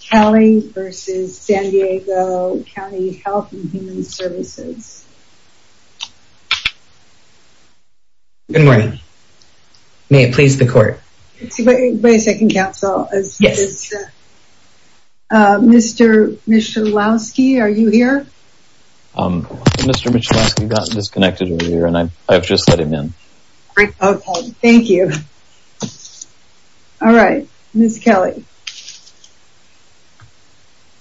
Kelly versus San Diego County Health and Human Services. Good morning. May it please the court. Wait a second, counsel. Yes. Mr. Michalowski, are you here? Mr. Michalowski got disconnected earlier, and I've just let him in. Thank you. All right, Ms. Kelley.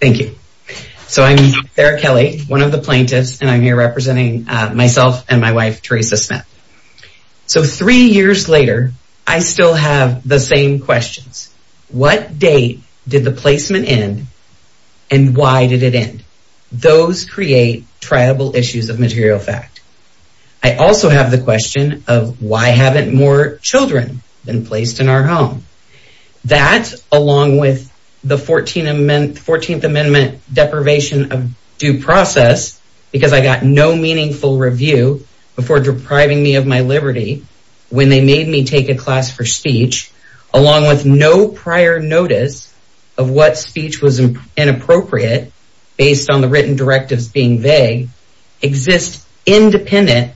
Thank you. So I'm Sara Kelley, one of the plaintiffs, and I'm here representing myself and my wife, Teresa Smith. So three years later, I still have the same questions. What date did the placement end, and why did it end? Those create triable issues of material fact. I also have the question of why haven't more children been placed in our home? That, along with the 14th Amendment deprivation of due process, because I got no meaningful review before depriving me of my liberty when they made me take a class for speech, along with no prior notice of what speech was inappropriate based on the written directives being vague, exists independent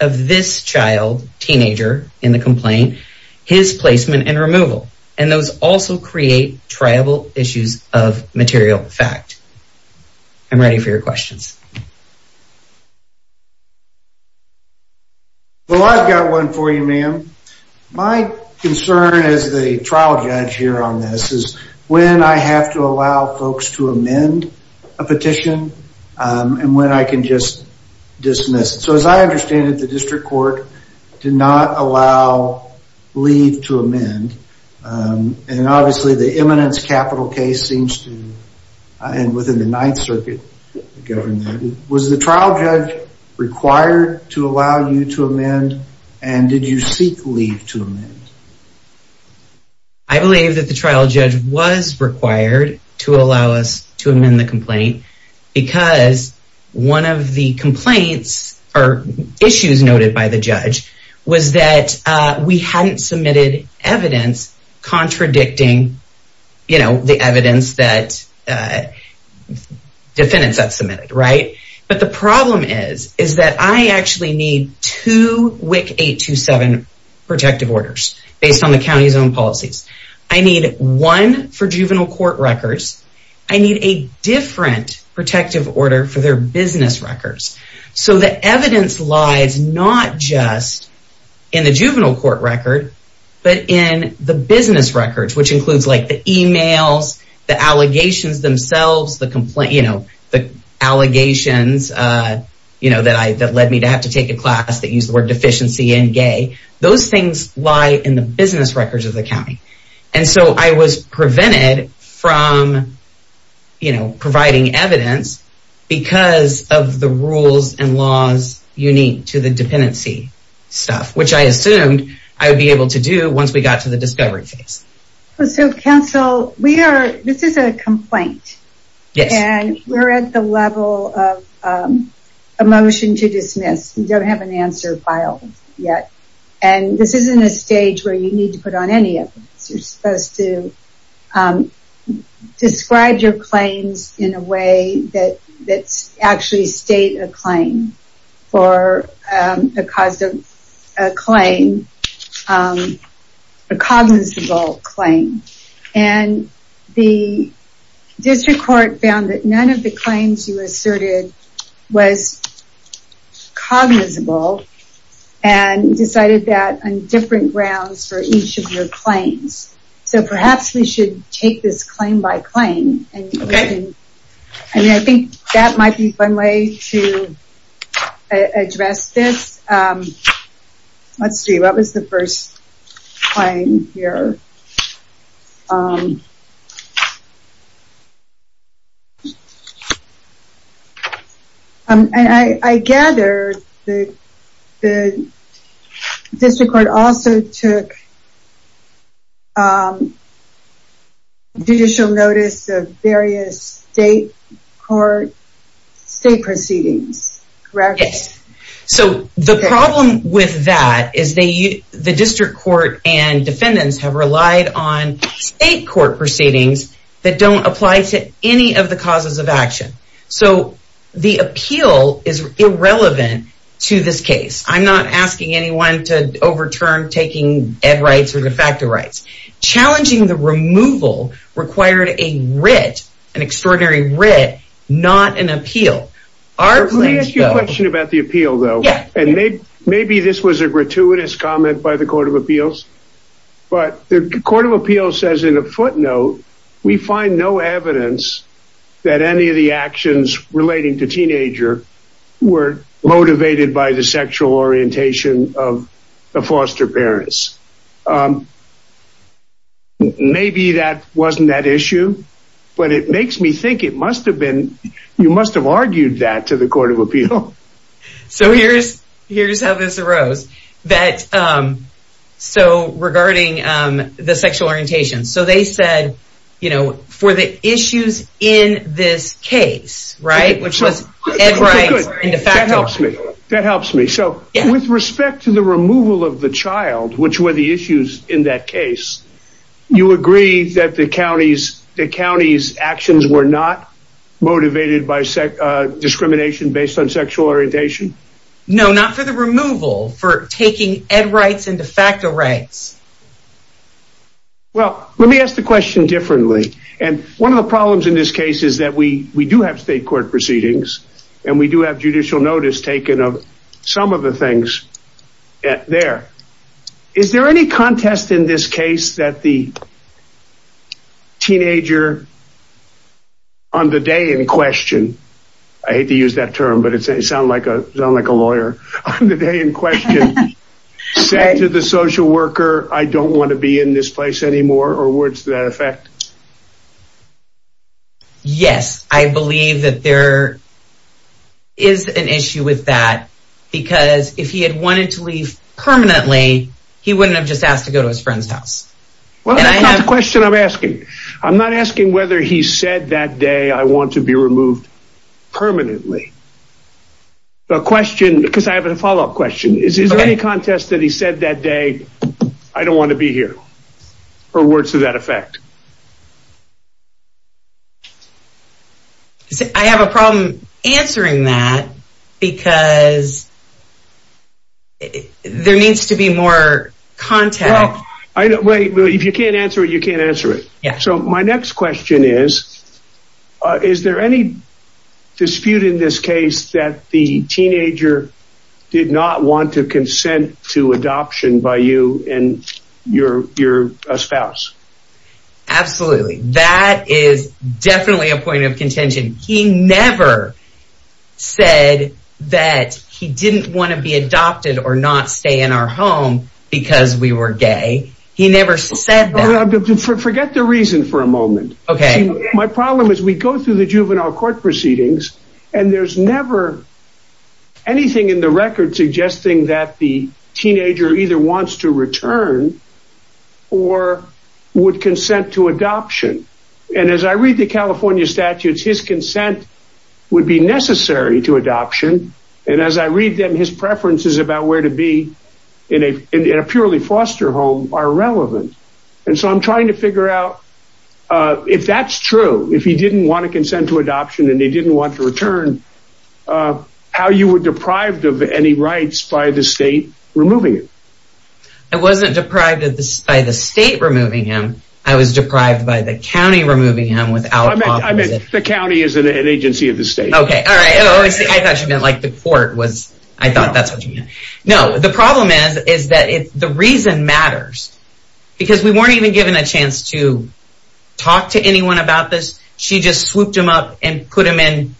of this child, teenager, in the complaint, his placement and removal, and those also create triable issues of material fact. I'm ready for your questions. Well, I've got one for you, ma'am. My concern as the trial judge here on this is when I have to allow folks to amend a petition and when I can just dismiss it. So as I understand it, the district court did not allow leave to amend, and obviously the eminence capital case seems to, and within the Ninth Circuit, govern that. Was the trial judge required to allow you to amend, and did you seek leave to amend? I believe that the trial judge was required to allow us to amend the complaint because one of the complaints or issues noted by the judge was that we hadn't submitted evidence contradicting the evidence that defendants had submitted. But the problem is that I actually need two WIC 827 protective orders based on the county's own policies. I need one for juvenile court records. I need a different protective order for their business records. So the evidence lies not just in the juvenile court record, but in the business records, which includes like the emails, the allegations themselves, the complaint, the allegations that led me to have to take a class that used the word deficiency and gay. Those things lie in the business records of the county. And so I was prevented from providing evidence because of the rules and laws unique to the dependency stuff, which I assumed I would be able to do once we got to the discovery phase. So counsel, this is a complaint. Yes. And we're at the level of a motion to dismiss. We don't have an answer filed yet. And this isn't a stage where you need to put on any evidence. You're supposed to describe your claims in a way that's actually state a claim for a cause of a claim, a cognizable claim. And the district court found that none of the claims you asserted was cognizable and decided that on different grounds for each of your claims. So perhaps we should take this claim by claim and I think that might be one way to address this. Let's see, what was the first claim here? And I gather the district court also took judicial notice of various state court, state proceedings, correct? Yes. So the problem with that is the district court and defendants have relied on state court proceedings that don't apply to any of the causes of action. So the appeal is irrelevant to this case. I'm not asking anyone to overturn taking ed rights or de facto rights. Challenging the removal required a writ, an extraordinary writ, not an appeal. Our claim- Let me ask you a question about the appeal though. And maybe this was a gratuitous comment by the court of appeals, but the court of appeals says in a footnote, we find no evidence that any of the actions relating to teenager were motivated by the sexual orientation of the foster parents. Maybe that wasn't that issue, but it makes me think it must've been, you must've argued that to the court of appeal. So here's how this arose. So regarding the sexual orientation. So they said, for the issues in this case, right? Which was ed rights and de facto. That helps me. So with respect to the removal of the child, which were the issues in that case, you agree that the county's actions were not motivated by discrimination based on sexual orientation? No, not for the removal, for taking ed rights and de facto rights. Well, let me ask the question differently. And one of the problems in this case is that we do have state court proceedings and we do have judicial notice taken of some of the things there. Is there any contest in this case that the teenager on the day in question, I hate to use that term, but it sounds like a lawyer on the day in question, said to the social worker, I don't want to be in this place anymore or words to that effect? Yes, I believe that there is an issue with that because if he had wanted to leave permanently, he wouldn't have just asked to go to his friend's house. Well, that's not the question I'm asking. I'm not asking whether he said that day, I want to be removed permanently. The question, because I have a follow-up question. Is there any contest that he said that day, I don't want to be here or words to that effect? I have a problem answering that because there needs to be more context. Wait, if you can't answer it, you can't answer it. So my next question is, is there any dispute in this case that the teenager did not want to consent to adoption by you and your spouse? Absolutely. That is definitely a point of contention. He never said that he didn't want to be adopted or not stay in our home because we were gay. He never said that. Forget the reason for a moment. My problem is we go through the juvenile court proceedings and there's never anything in the record suggesting that the teenager either wants to return or would consent to adoption. And as I read the California statutes, his consent would be necessary to adoption. And as I read them, his preferences about where to be in a purely foster home are relevant. And so I'm trying to figure out if that's true, if he didn't want to consent to adoption and they didn't want to return, how you were deprived of any rights by the state removing it. I wasn't deprived by the state removing him. I was deprived by the county removing him without talking to the- The county is an agency of the state. Okay, all right. I thought you meant like the court was, I thought that's what you meant. No, the problem is that the reason matters because we weren't even given a chance to talk to anyone about this. She just swooped him up and put him in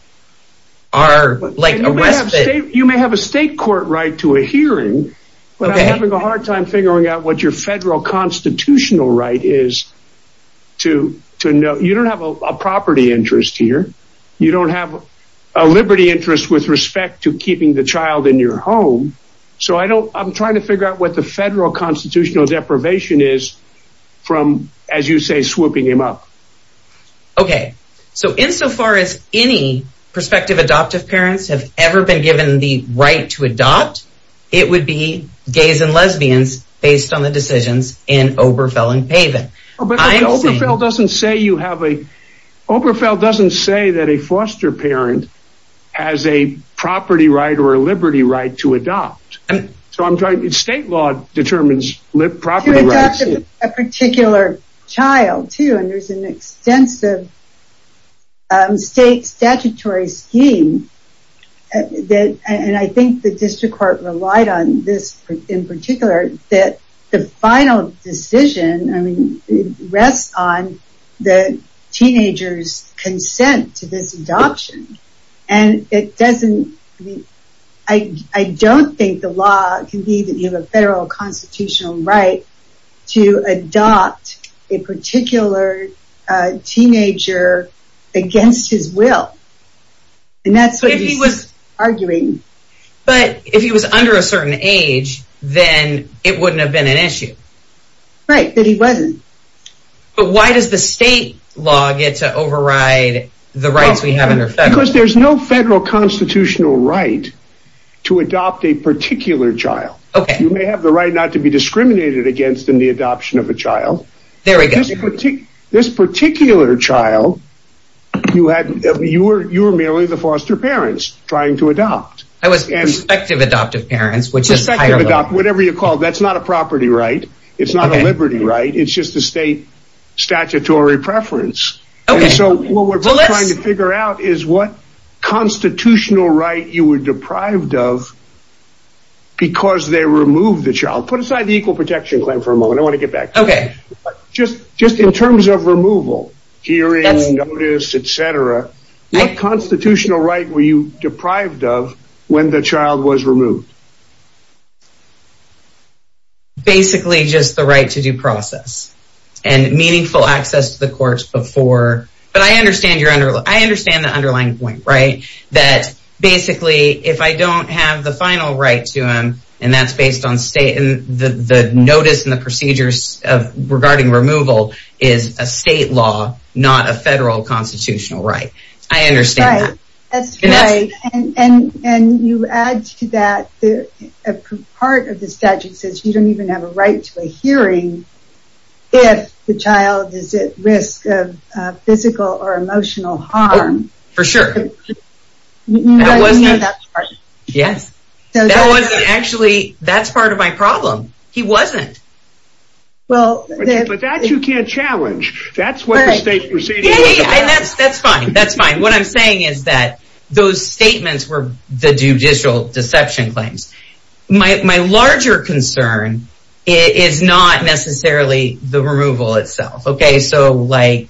our, like a respite. You may have a state court right to a hearing, but I'm having a hard time figuring out what your federal constitutional right is to know. You don't have a property interest here. You don't have a liberty interest with respect to keeping the child in your home. So I don't, I'm trying to figure out what the federal constitutional deprivation is from, as you say, swooping him up. Okay, so insofar as any prospective adoptive parents have ever been given the right to adopt, it would be gays and lesbians based on the decisions in Oberfeld and Pavin. But Oberfeld doesn't say you have a, Oberfeld doesn't say that a foster parent has a property right or a liberty right to adopt. So I'm trying, state law determines property rights. A particular child too, and there's an extensive state statutory scheme and I think the district court relied on this in particular that the final decision, I mean, rests on the teenager's consent to this adoption. And it doesn't, I mean, I don't think the law can be that you have a federal constitutional right to adopt a particular teenager against his will. And that's what he's arguing. But if he was under a certain age, then it wouldn't have been an issue. Right, that he wasn't. But why does the state law get to override the rights we have under federal? Because there's no federal constitutional right to adopt a particular child. Okay. You may have the right not to be discriminated against in the adoption of a child. There we go. This particular child, you were merely the foster parents trying to adopt. I was prospective adoptive parents, which is higher level. Prospective adopt, whatever you call it. That's not a property right. It's not a liberty right. It's just a state statutory preference. Okay. And so what we're trying to figure out is what constitutional right you were deprived of because they removed the child. Put aside the equal protection claim for a moment. I want to get back. Okay. Just in terms of removal, hearing, notice, et cetera, what constitutional right were you deprived of when the child was removed? Basically just the right to due process and meaningful access to the courts before. But I understand the underlying point, right? That basically, if I don't have the final right to him, and that's based on state and the notice and the procedures regarding removal is a state law, not a federal constitutional right. I understand that. That's right. And you add to that, part of the statute says you don't even have a right to a hearing if the child is at risk of physical or emotional harm. For sure. Yes. That wasn't actually, that's part of my problem. He wasn't. Well- But that you can't challenge. That's what the state procedure- Yeah, yeah, yeah. And that's fine. That's fine. What I'm saying is that those statements were the judicial deception claims. My larger concern is not necessarily the removal itself. Okay. So like,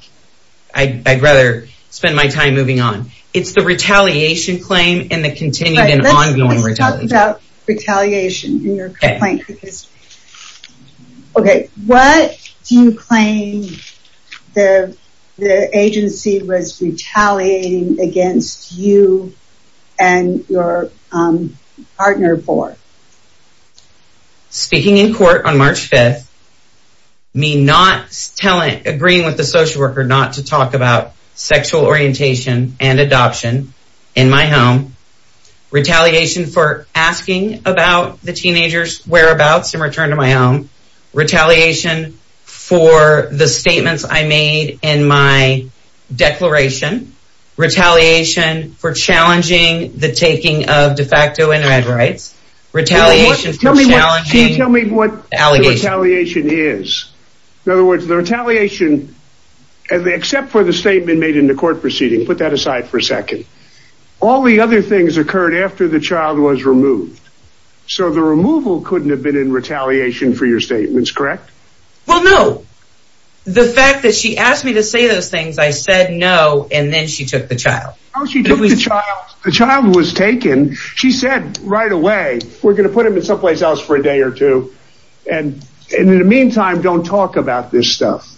I'd rather spend my time moving on. It's the retaliation claim and the continued and ongoing retaliation. Let's talk about retaliation in your complaint. Because, okay. What do you claim the agency was retaliating against you and your partner for? Speaking in court on March 5th, me not telling, agreeing with the social worker not to talk about sexual orientation and adoption in my home, retaliation for asking about the teenagers whereabouts in return to my home, retaliation for the statements I made in my declaration, retaliation for challenging the taking of de facto internet rights, retaliation for challenging- Can you tell me what the retaliation is? In other words, the retaliation, except for the statement made in the court proceeding, put that aside for a second. All the other things occurred after the child was removed. So the removal couldn't have been in retaliation for your statements, correct? Well, no. The fact that she asked me to say those things, I said, no, and then she took the child. Oh, she took the child. The child was taken. She said right away, we're going to put him in someplace else for a day or two. And in the meantime, don't talk about this stuff.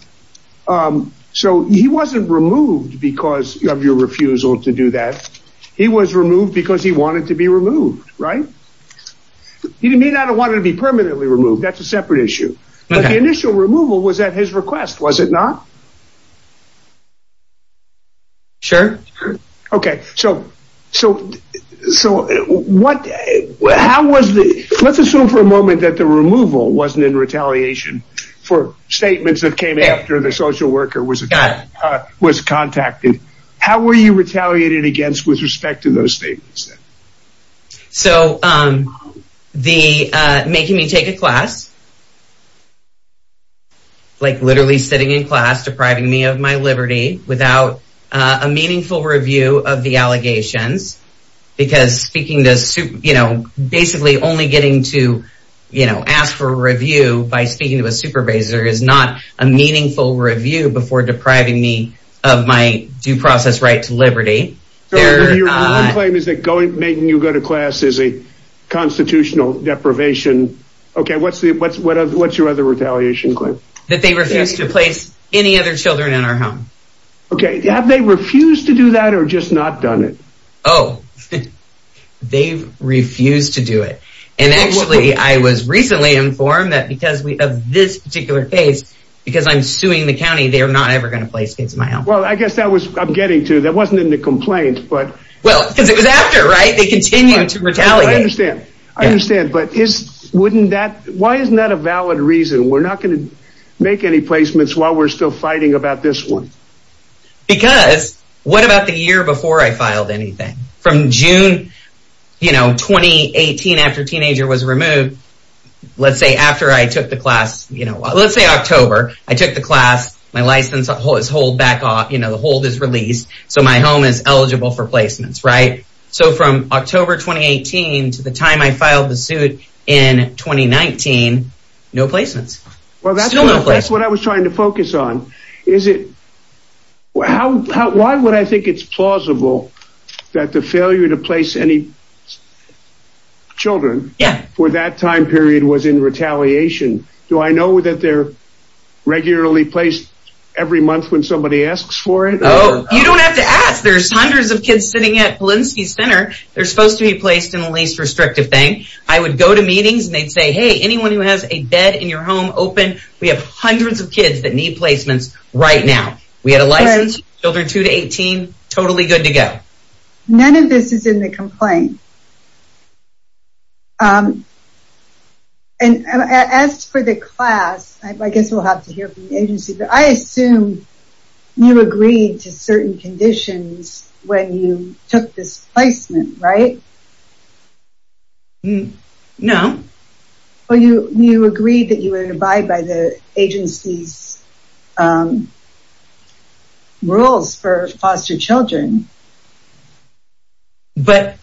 So he wasn't removed because of your refusal to do that. He was removed because he wanted to be removed, right? He may not have wanted to be permanently removed. That's a separate issue. But the initial removal was at his request, was it not? Sure. Okay, so what, how was the, let's assume for a moment that the removal wasn't in retaliation for statements that came after the social worker was contacted. How were you retaliated against with respect to those statements then? So the making me take a class, like literally sitting in class, depriving me of my liberty without a meaningful review of the allegations, because speaking to, you know, basically only getting to, you know, ask for review by speaking to a supervisor is not a meaningful review before depriving me of my due process right to liberty. Your claim is that making you go to class is a constitutional deprivation. Okay, what's your other retaliation claim? That they refuse to place any other children in our home. Okay, have they refused to do that or just not done it? Oh, they've refused to do it. And actually I was recently informed that because of this particular case, because I'm suing the county, they're not ever gonna place kids in my home. Well, I guess that was, I'm getting to, that wasn't in the complaint, but. Well, because it was after, right? They continue to retaliate. I understand, I understand. But is, wouldn't that, why isn't that a valid reason? We're not gonna make any placements while we're still fighting about this one. Because what about the year before I filed anything? From June, you know, 2018 after teenager was removed, let's say after I took the class, you know, let's say October, I took the class, my license hold is hold back off, you know, the hold is released. So my home is eligible for placements, right? So from October, 2018 to the time I filed the suit in 2019, no placements. Well, that's what I was trying to focus on. Is it, why would I think it's plausible that the failure to place any children for that time period was in retaliation? Do I know that they're regularly placed every month when somebody asks for it? Oh, you don't have to ask. There's hundreds of kids sitting at Polinsky Center. They're supposed to be placed in the least restrictive thing. I would go to meetings and they'd say, hey, anyone who has a bed in your home open, we have hundreds of kids that need placements right now. We had a license, children two to 18, totally good to go. None of this is in the complaint. And as for the class, I guess we'll have to hear from the agency, but I assume you agreed to certain conditions when you took this placement, right? No. Well, you agreed that you would abide by the agency's rules for foster children. But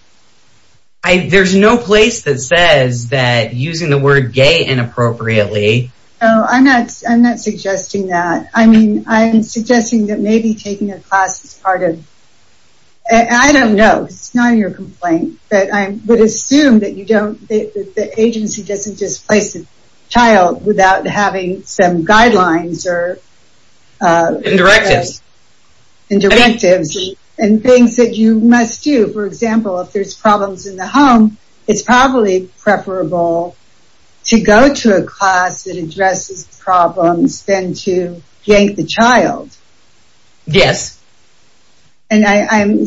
there's no place that says that using the word gay inappropriately. No, I'm not suggesting that. I mean, I'm suggesting that maybe taking a class is part of, I don't know, it's not in your complaint, but I would assume that you don't, the agency doesn't just place a child without having some guidelines or- And directives. And directives and things that you must do. For example, if there's problems in the home, it's probably preferable to go to a class that addresses problems than to yank the child. Yes. And I'm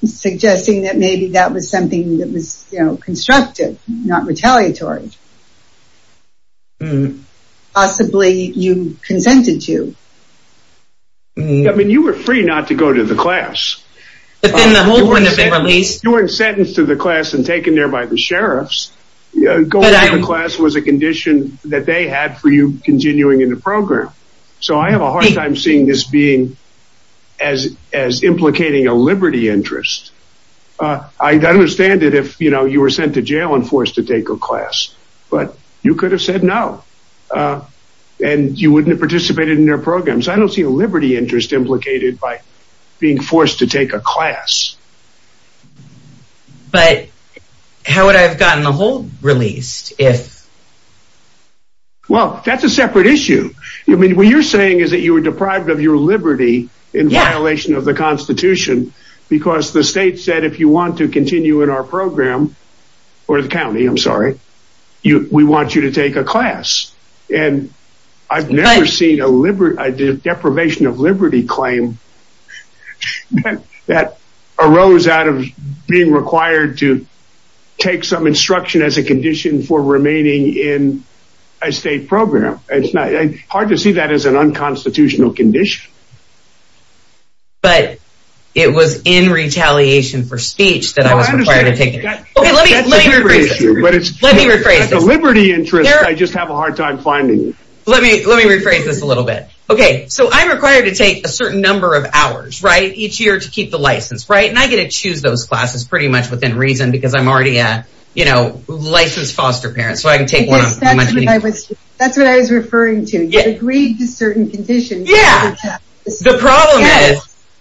suggesting that maybe that was something that was constructive, not retaliatory. Possibly you consented to. I mean, you were free not to go to the class. But then the whole point of it released. You were sentenced to the class and taken there by the sheriffs. Going to the class was a condition that they had for you continuing in the program. So I have a hard time seeing this being as implicating a liberty interest. I understand that if you were sent to jail and forced to take a class, but you could have said no and you wouldn't have participated in their programs. I don't see a liberty interest implicated by being forced to take a class. But how would I have gotten the whole released if? Well, that's a separate issue. I mean, what you're saying is that you were deprived of your liberty in violation of the constitution because the state said, if you want to continue in our program or the county, I'm sorry, we want you to take a class. And I've never seen a deprivation of liberty claim that arose out of being required to take some instruction as a condition for remaining in a state program. It's hard to see that as an unconstitutional condition. But it was in retaliation for speech that I was required to take it. Okay, let me rephrase this. Let me rephrase this. The liberty interest, I just have a hard time finding. Let me rephrase this a little bit. Okay, so I'm required to take a certain number of hours, right, each year to keep the license, right? And I get to choose those classes pretty much within reason because I'm already a licensed foster parent. So I can take one of them. That's what I was referring to. You agreed to certain conditions. Yeah, the problem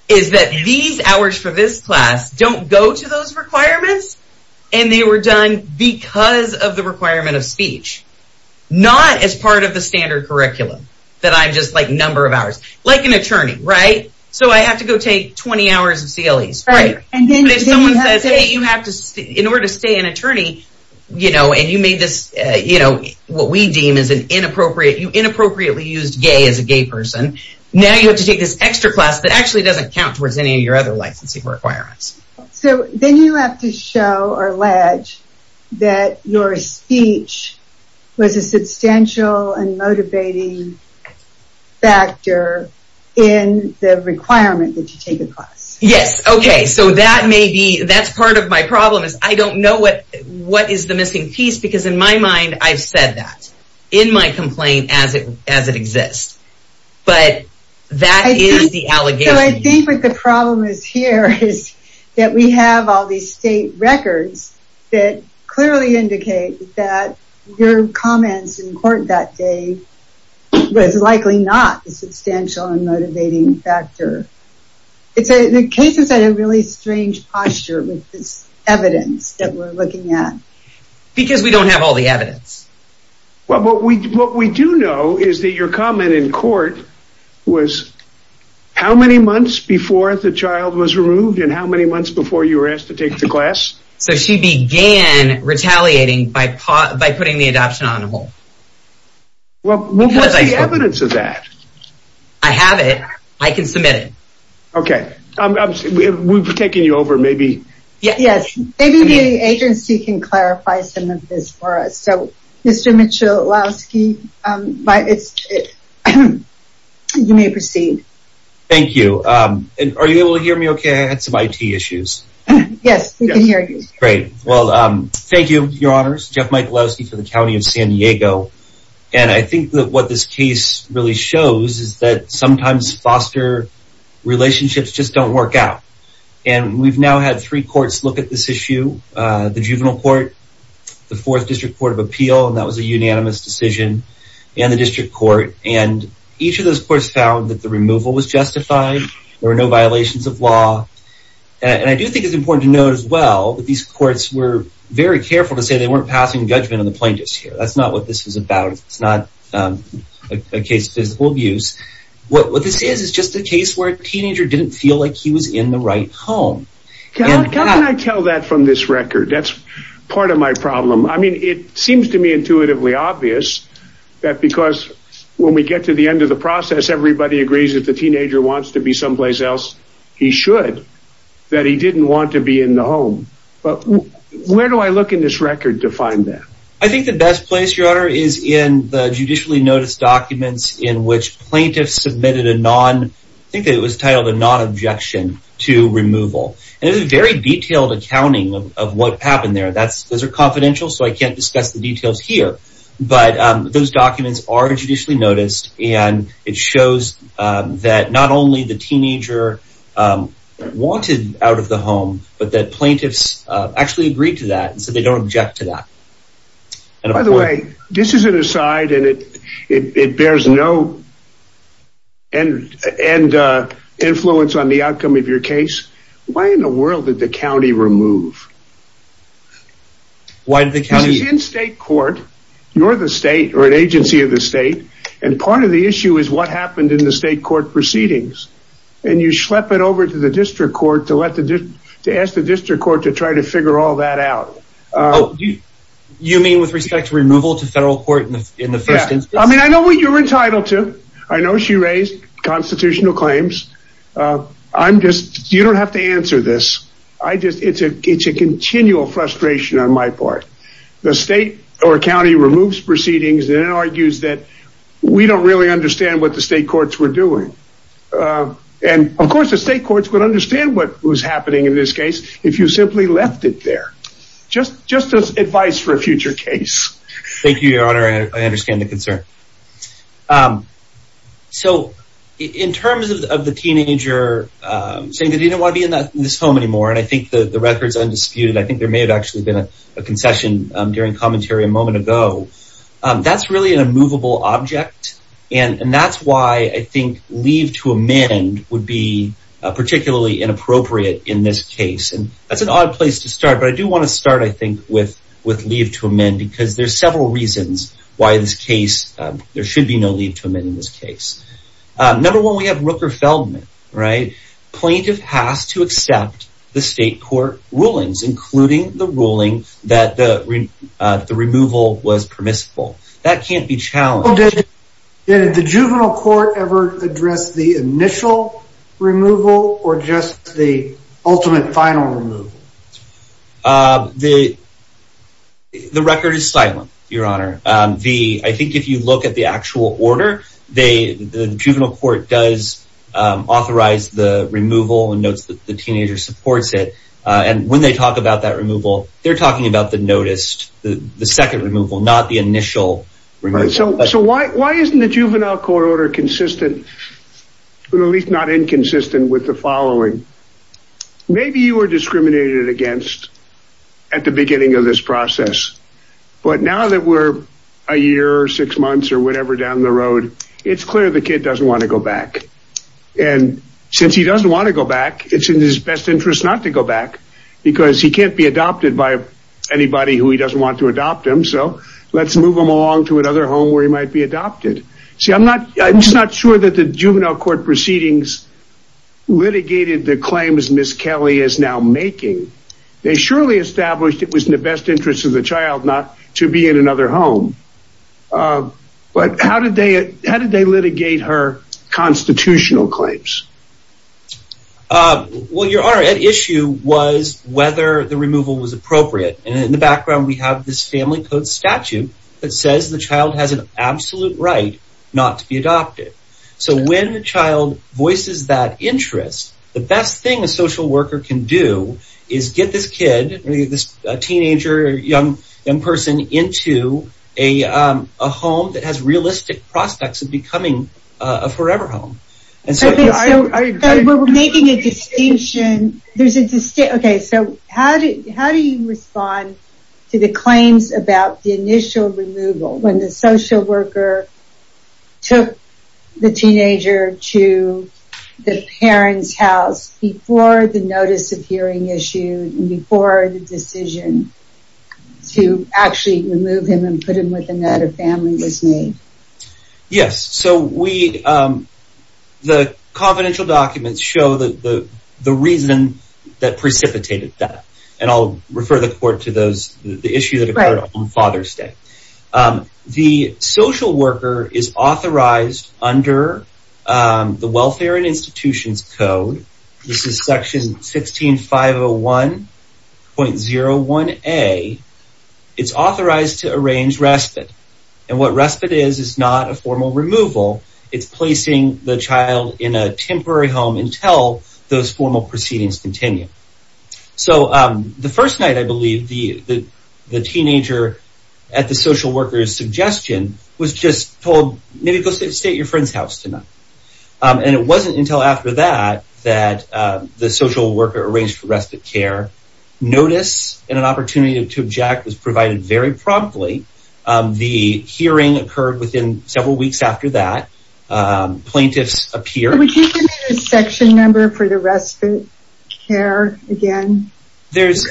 is that these hours for this class don't go to those requirements and they were done because of the requirement of speech, not as part of the standard curriculum that I'm just like number of hours, like an attorney, right? So I have to go take 20 hours of CLEs, right? And if someone says, hey, you have to, in order to stay an attorney, you know, and you made this, you know, what we deem as an inappropriate, you inappropriately used gay as a gay person. Now you have to take this extra class that actually doesn't count towards any of your other licensing requirements. So then you have to show or allege that your speech was a substantial and motivating factor in the requirement that you take the class. Yes, okay. So that may be, that's part of my problem is I don't know what is the missing piece because in my mind, I've said that in my complaint as it exists. But that is the allegation. So I think what the problem is here is that we have all these state records that clearly indicate that your comments in court that day was likely not a substantial and motivating factor. It's a, the case is at a really strange posture with this evidence that we're looking at. Because we don't have all the evidence. Well, what we do know is that your comment in court was how many months before the child was removed and how many months before you were asked to take the class? So she began retaliating by putting the adoption on hold. Well, what was the evidence of that? I have it, I can submit it. Okay, we've taken you over maybe. Yes, maybe the agency can clarify some of this for us. So Mr. Michalowski, you may proceed. Thank you. And are you able to hear me okay? I had some IT issues. Yes, we can hear you. Great, well, thank you, your honors, Jeff Michalowski for the County of San Diego. And I think that what this case really shows is that sometimes foster relationships just don't work out. And we've now had three courts look at this issue, the juvenile court, the fourth district court of appeal, and that was a unanimous decision and the district court. And each of those courts found that the removal was justified, there were no violations of law. And I do think it's important to note as well that these courts were very careful to say they weren't passing judgment on the plaintiffs here. That's not what this is about. It's not a case of physical abuse. What this is, is just a case where a teenager didn't feel like he was in the right home. Can I tell that from this record? That's part of my problem. I mean, it seems to me intuitively obvious that because when we get to the end of the process, everybody agrees that the teenager wants to be someplace else, he should, that he didn't want to be in the home. But where do I look in this record to find that? I think the best place, your honor, is in the judicially noticed documents in which plaintiffs submitted a non, I think that it was titled a non-objection to removal. And it was a very detailed accounting of what happened there. Those are confidential, so I can't discuss the details here. But those documents are judicially noticed and it shows that not only the teenager wanted out of the home, but that plaintiffs actually agreed to that and so they don't object to that. And by the way, this is an aside and it bears no and influence on the outcome of your case. Why in the world did the county remove? Why did the county? It's in state court, you're the state or an agency of the state. And part of the issue is what happened in the state court proceedings. And you schlep it over to the district court to ask the district court to try to figure all that out. Oh, you mean with respect to removal to federal court in the first instance? Yeah, I mean, I know what you're entitled to. I know she raised constitutional claims. I'm just, you don't have to answer this. I just, it's a continual frustration on my part. The state or county removes proceedings and argues that we don't really understand what the state courts were doing. And of course the state courts would understand what was happening in this case if you simply left it there. Just as advice for a future case. Thank you, your honor. I understand the concern. So in terms of the teenager, saying that he didn't wanna be in this home anymore. And I think the record's undisputed. I think there may have actually been a concession during commentary a moment ago. That's really an immovable object. And that's why I think leave to amend would be particularly inappropriate in this case. And that's an odd place to start, but I do wanna start, I think, with leave to amend there should be no leave to amend in this case. Number one, we have Rooker Feldman, right? Plaintiff has to accept the state court rulings, including the ruling that the removal was permissible. That can't be challenged. Did the juvenile court ever address the initial removal or just the ultimate final removal? The record is silent, your honor. I think if you look at the actual order, the juvenile court does authorize the removal and notes that the teenager supports it. And when they talk about that removal, they're talking about the noticed, the second removal, not the initial removal. So why isn't the juvenile court order consistent, or at least not inconsistent with the following? Maybe you were discriminated against at the beginning of this process, but now that we're a year or six months or whatever down the road, it's clear the kid doesn't wanna go back. And since he doesn't wanna go back, it's in his best interest not to go back because he can't be adopted by anybody who he doesn't want to adopt him. So let's move him along to another home where he might be adopted. See, I'm just not sure that the juvenile court proceedings litigated the claims Ms. Kelly is now making. They surely established it was in the best interest of the child not to be in another home. But how did they litigate her constitutional claims? Well, your honor, at issue was whether the removal was appropriate. And in the background, we have this family code statute that says the child has an absolute right not to be adopted. So when a child voices that interest, the best thing a social worker can do is get this kid or this teenager or young person into a home that has realistic prospects of becoming a forever home. And so- Okay, so we're making a distinction. There's a distinction. Okay, so how do you respond to the claims about the initial removal when the social worker took the teenager to the parent's house before the notice of hearing issue and before the decision to actually remove him and put him with another family was made? Yes, so the confidential documents show the reason that precipitated that. And I'll refer the court to those, the issue that occurred on Father's Day. The social worker is authorized under the Welfare and Institutions Code. This is section 16501.01A. It's authorized to arrange respite. And what respite is, is not a formal removal. It's placing the child in a temporary home until those formal proceedings continue. So the first night, I believe, the teenager at the social worker's suggestion was just told, maybe go stay at your friend's house tonight. And it wasn't until after that that the social worker arranged for respite care. Notice and an opportunity to object was provided very promptly. The hearing occurred within several weeks after that. Plaintiffs appeared. Would you give me the section number for the respite care again? There's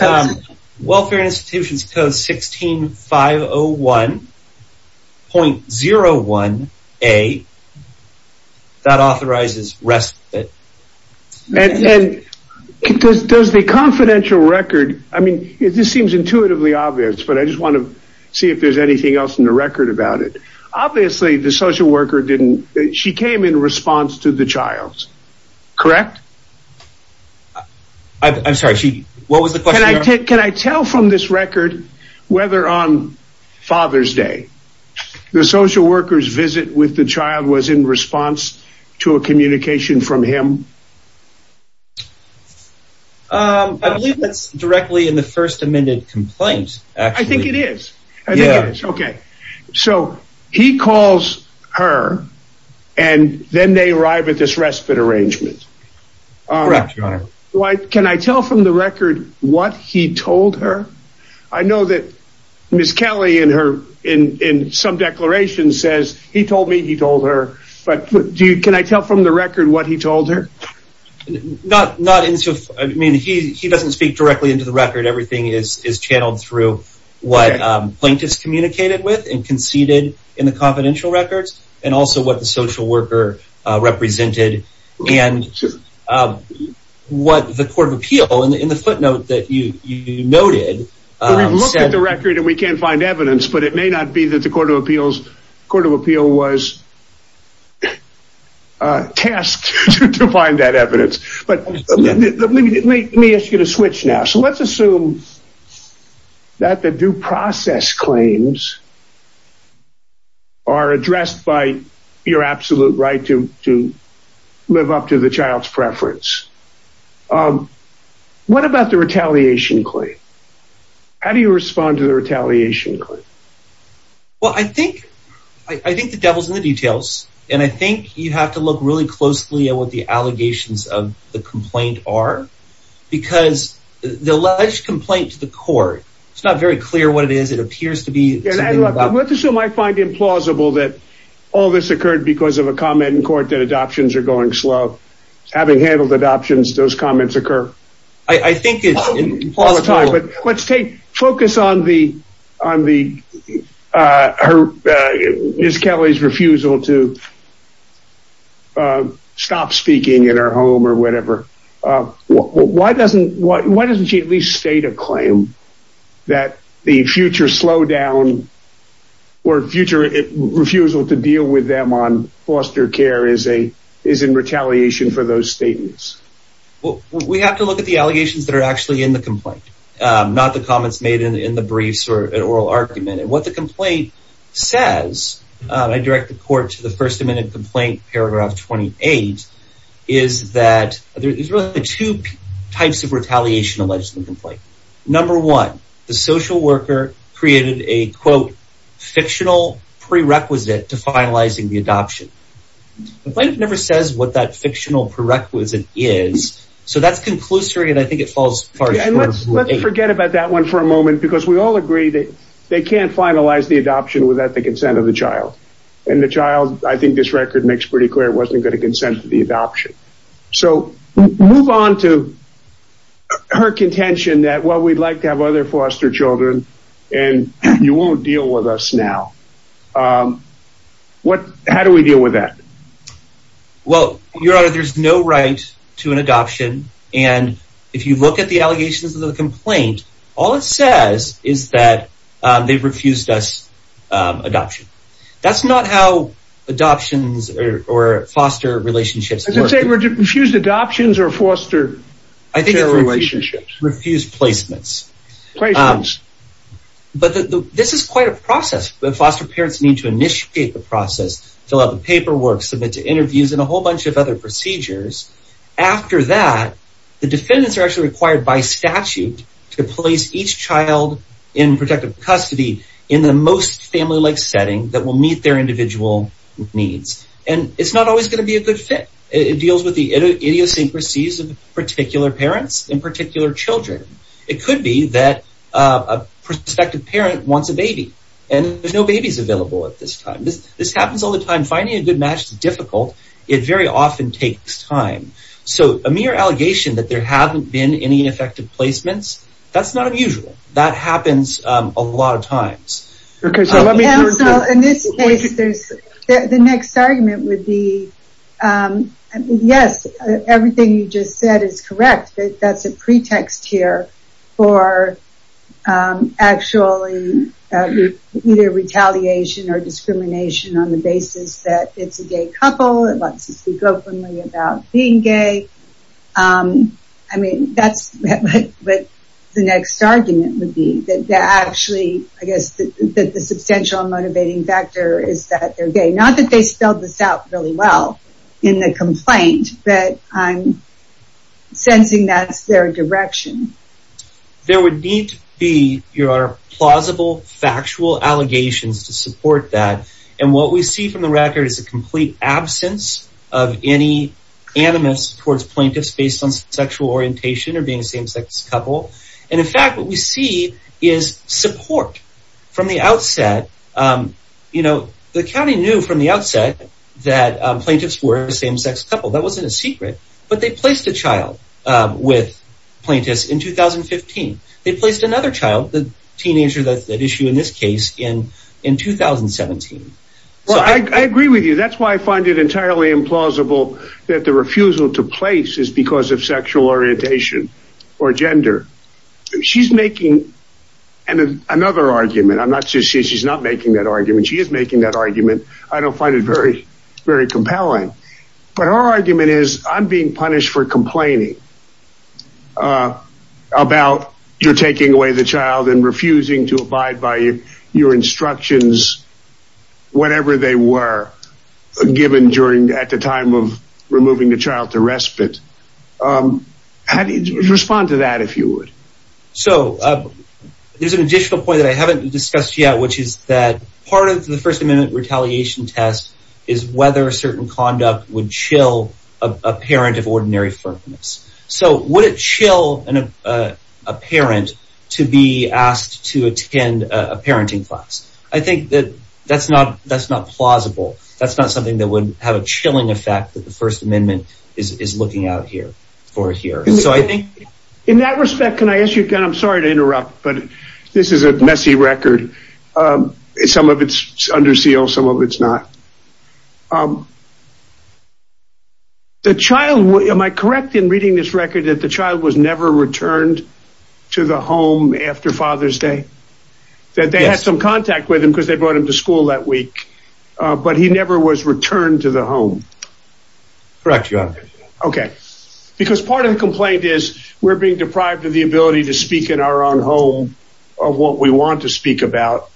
Welfare and Institutions Code 16501.01A that authorizes respite. And does the confidential record, I mean, this seems intuitively obvious, but I just want to see if there's anything else in the record about it. Obviously the social worker didn't, she came in response to the child, correct? I'm sorry, what was the question? Can I tell from this record, whether on Father's Day, the social worker's visit with the child was in response to a communication from him? I believe that's directly in the first amended complaint, actually. I think it is. I think it is, okay. So he calls her and then they arrive at this respite arrangement. Correct, Your Honor. Can I tell from the record what he told her? I know that Ms. Kelly in some declarations says, he told me he told her, but can I tell from the record what he told her? Not in, I mean, he doesn't speak directly into the record. Everything is channeled through what plaintiffs communicated with and conceded in the confidential records and also what the social worker represented and what the Court of Appeal in the footnote that you noted. We've looked at the record and we can't find evidence, but it may not be that the Court of Appeals, Court of Appeal was tasked to find that evidence. But let me ask you to switch now. So let's assume that the due process claims are addressed by your absolute right to live up to the child's preference. What about the retaliation claim? How do you respond to the retaliation claim? Well, I think the devil's in the details. And I think you have to look really closely at what the allegations of the complaint are because the alleged complaint to the court, it's not very clear what it is. It appears to be- And let's assume I find implausible that all this occurred because of a comment in court that adoptions are going slow. Having handled adoptions, those comments occur. I think it's implausible. Let's take, focus on the Ms. Kelly's refusal to stop speaking at her home or whatever. Why doesn't she at least state a claim that the future slowdown or future refusal to deal with them on foster care is in retaliation for those statements? Well, we have to look at the allegations that are actually in the complaint, not the comments made in the briefs or an oral argument. And what the complaint says, I direct the court to the first amendment complaint, paragraph 28, is that there's really two types of retaliation alleged in the complaint. Number one, the social worker created a quote, fictional prerequisite to finalizing the adoption. The complaint never says what that fictional prerequisite is. So that's conclusory and I think it falls far short. Let's forget about that one for a moment because we all agree that they can't finalize the adoption without the consent of the child. And the child, I think this record makes pretty clear, wasn't gonna consent to the adoption. So move on to her contention that, well, we'd like to have other foster children and you won't deal with us now. How do we deal with that? Well, Your Honor, there's no right to an adoption. And if you look at the allegations of the complaint, all it says is that they've refused us adoption. That's not how adoptions or foster relationships work. I was gonna say, refused adoptions or foster- I think it's refused. Refused placements. Placements. But this is quite a process. The foster parents need to initiate the process, fill out the paperwork, submit to interviews and a whole bunch of other procedures. After that, the defendants are actually required by statute to place each child in protective custody in the most family-like setting that will meet their individual needs. And it's not always gonna be a good fit. It deals with the idiosyncrasies of particular parents and particular children. It could be that a prospective parent wants a baby and there's no babies available at this time. This happens all the time. Finding a good match is difficult. It very often takes time. So a mere allegation that there haven't been any ineffective placements, that's not unusual. That happens a lot of times. Okay, so let me- In this case, the next argument would be, yes, everything you just said is correct. That's a pretext here for actually either retaliation or discrimination. On the basis that it's a gay couple, it wants to speak openly about being gay. I mean, that's what the next argument would be. That actually, I guess, that the substantial motivating factor is that they're gay. Not that they spelled this out really well in the complaint, but I'm sensing that's their direction. There would need to be, Your Honor, plausible factual allegations to support that. And what we see from the record is a complete absence of any animus towards plaintiffs based on sexual orientation or being a same-sex couple. And in fact, what we see is support from the outset. The county knew from the outset that plaintiffs were a same-sex couple. That wasn't a secret, but they placed a child with plaintiffs in 2015. They placed another child, the teenager that's at issue in this case, in 2017. Well, I agree with you. That's why I find it entirely implausible that the refusal to place is because of sexual orientation or gender. She's making another argument. I'm not saying she's not making that argument. She is making that argument. I don't find it very compelling. But her argument is, I'm being punished for complaining about you're taking away the child and refusing to abide by your instructions, whatever they were given during, at the time of removing the child to respite. How do you respond to that, if you would? So there's an additional point that I haven't discussed yet, which is that part of the First Amendment retaliation test is whether a certain conduct would chill a parent of ordinary firmness. So would it chill a parent to be asked to attend a parenting class? I think that that's not plausible. That's not something that would have a chilling effect that the First Amendment is looking out for here. And so I think- In that respect, can I ask you again? I'm sorry to interrupt, but this is a messy record. Some of it's under seal, some of it's not. Um, the child, am I correct in reading this record that the child was never returned to the home after Father's Day? That they had some contact with him because they brought him to school that week, but he never was returned to the home? Correct, Your Honor. Okay, because part of the complaint is we're being deprived of the ability to speak in our own home of what we want to speak about.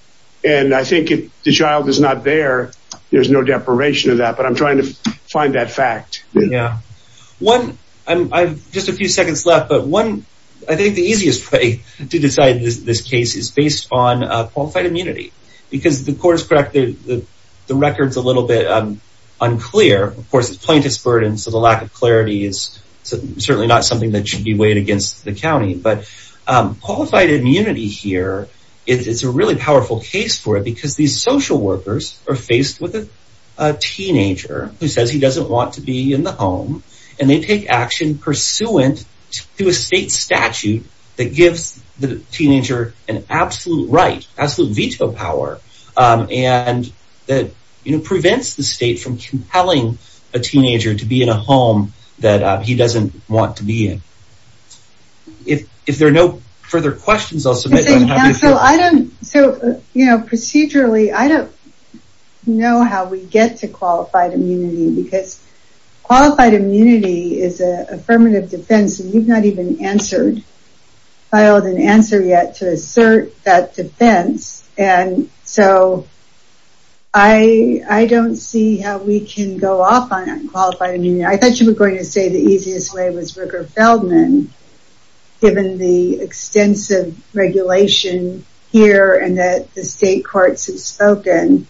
And I think if the child is not there, there's no deprivation of that, but I'm trying to find that fact. Yeah. One, I have just a few seconds left, but one, I think the easiest way to decide this case is based on qualified immunity. Because the court is correct, the record's a little bit unclear. Of course, it's plaintiff's burden, so the lack of clarity is certainly not something that should be weighed against the county. But qualified immunity here, it's a really powerful case for it to be faced with a teenager who says he doesn't want to be in the home, and they take action pursuant to a state statute that gives the teenager an absolute right, absolute veto power, and that prevents the state from compelling a teenager to be in a home that he doesn't want to be in. If there are no further questions, I'll submit, but I'm happy to fill. So procedurally, I don't know how we get to qualified immunity, because qualified immunity is an affirmative defense that you've not even filed an answer yet to assert that defense, and so I don't see how we can go off on that qualified immunity. I thought you were going to say the easiest way was Ricker-Feldman, given the extensive regulation here and that the state courts have spoken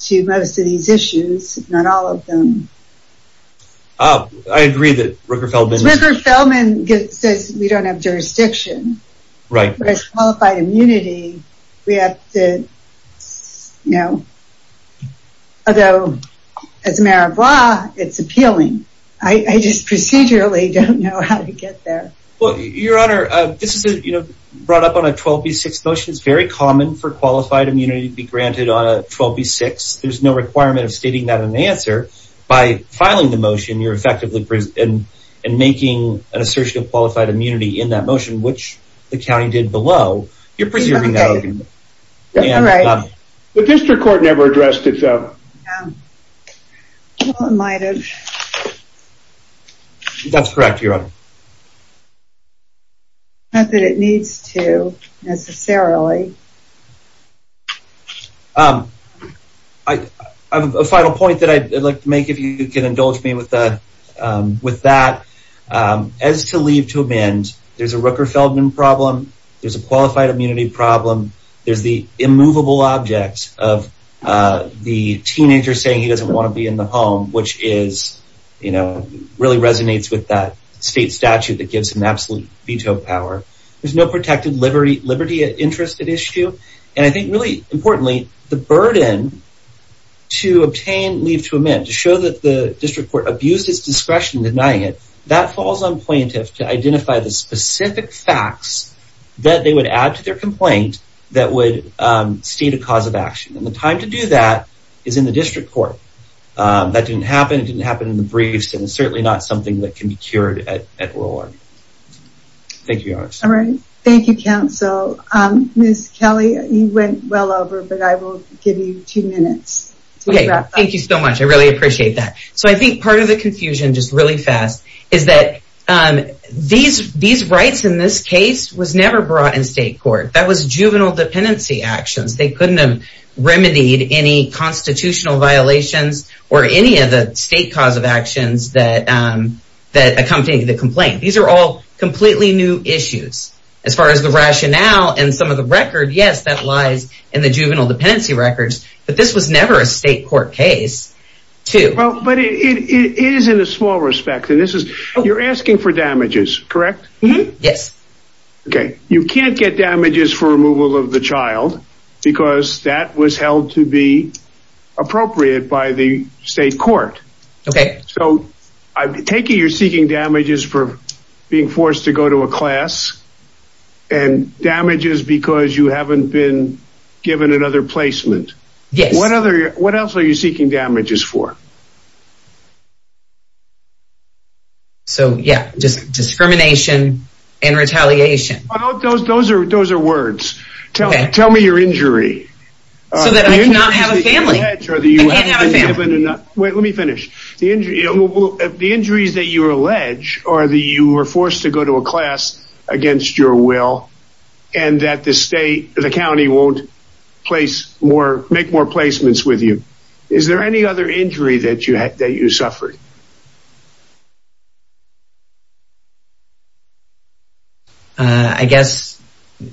to most of these issues, if not all of them. I agree that Ricker-Feldman- Ricker-Feldman says we don't have jurisdiction. Right. But as qualified immunity, we have to, you know, although as a mayor of LA, it's appealing. I just procedurally don't know how to get there. Well, Your Honor, this is, you know, brought up on a 12B6 motion. It's very common for qualified immunity to be granted on a 12B6. There's no requirement of stating that in the answer. By filing the motion, you're effectively and making an assertion of qualified immunity in that motion, which the county did below. You're presuming that- Okay, all right. The district court never addressed it, though. Well, it might have. That's correct, Your Honor. Not that it needs to, necessarily. I have a final point that I'd like to make, if you can indulge me with that. As to leave to amend, there's a Ricker-Feldman problem. There's a qualified immunity problem. There's the immovable objects of the two-year-old teenager saying he doesn't want to be in the home, which is, you know, really resonates with that state statute that gives him absolute veto power. There's no protected liberty interest at issue. And I think, really importantly, the burden to obtain leave to amend, to show that the district court abused its discretion in denying it, that falls on plaintiffs to identify the specific facts that they would add to their complaint that would state a cause of action. And the time to do that is in the district court. That didn't happen, it didn't happen in the briefs, and it's certainly not something that can be cured at oral army. Thank you, Your Honor. All right, thank you, counsel. Ms. Kelly, you went well over, but I will give you two minutes to wrap up. Thank you so much, I really appreciate that. So I think part of the confusion, just really fast, is that these rights in this case was never brought in state court. That was juvenile dependency actions. They couldn't have remedied any constitutional violations or any of the state cause of actions that accompanied the complaint. These are all completely new issues. As far as the rationale and some of the record, yes, that lies in the juvenile dependency records, but this was never a state court case, too. But it is in a small respect, and this is, you're asking for damages, correct? Yes. Okay, you can't get damages for removal of the child because that was held to be appropriate by the state court. Okay. So I'm taking you're seeking damages for being forced to go to a class and damages because you haven't been given another placement. Yes. What else are you seeking damages for? So, yeah, just discrimination and retaliation. Those are words. Tell me your injury. So that I cannot have a family. I can't have a family. Wait, let me finish. The injuries that you allege are that you were forced to go to a class against your will and that the county won't make more placements with you. Is there any other injury that you suffered? I guess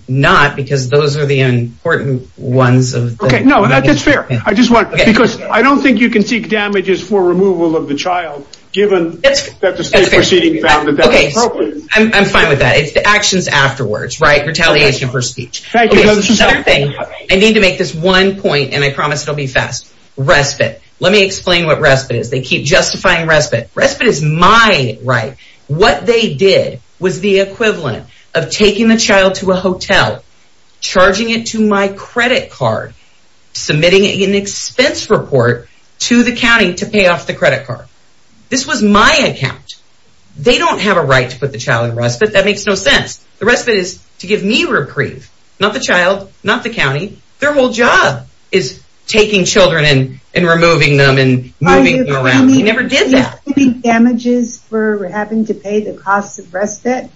not, because those are the important ones. Okay, no, that's fair. I just want, because I don't think you can seek damages for removal of the child, given that the state proceeding found that that was appropriate. I'm fine with that. It's the actions afterwards, right? Retaliation for speech. Thank you, Justice. Another thing, I need to make this one point, and I promise it'll be fast. Respite. Let me explain what respite is. They keep justifying respite. Respite is my right. What they did was the equivalent of taking the child to a hotel, charging it to my credit card, submitting an expense report to the county to pay off the credit card. This was my account. They don't have a right to put the child in respite. That makes no sense. The respite is to give me reprieve, not the child, not the county. Their whole job is taking children and removing them and moving them around. We never did that. Are you claiming damages for having to pay the cost of respite?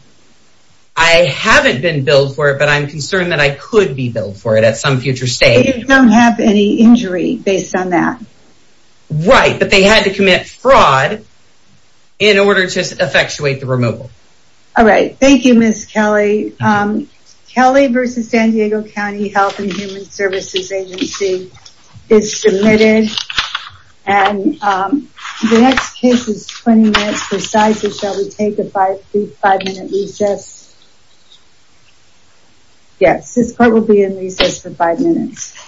I haven't been billed for it, but I'm concerned that I could be billed for it at some future stage. But you don't have any injury based on that. Right, but they had to commit fraud in order to effectuate the removal. All right. Thank you, Ms. Kelly. Kelly versus San Diego County Health and Human Services Agency is submitted. And the next case is 20 minutes. Precisely, shall we take a five minute recess? Yes, this court will be in recess for five minutes.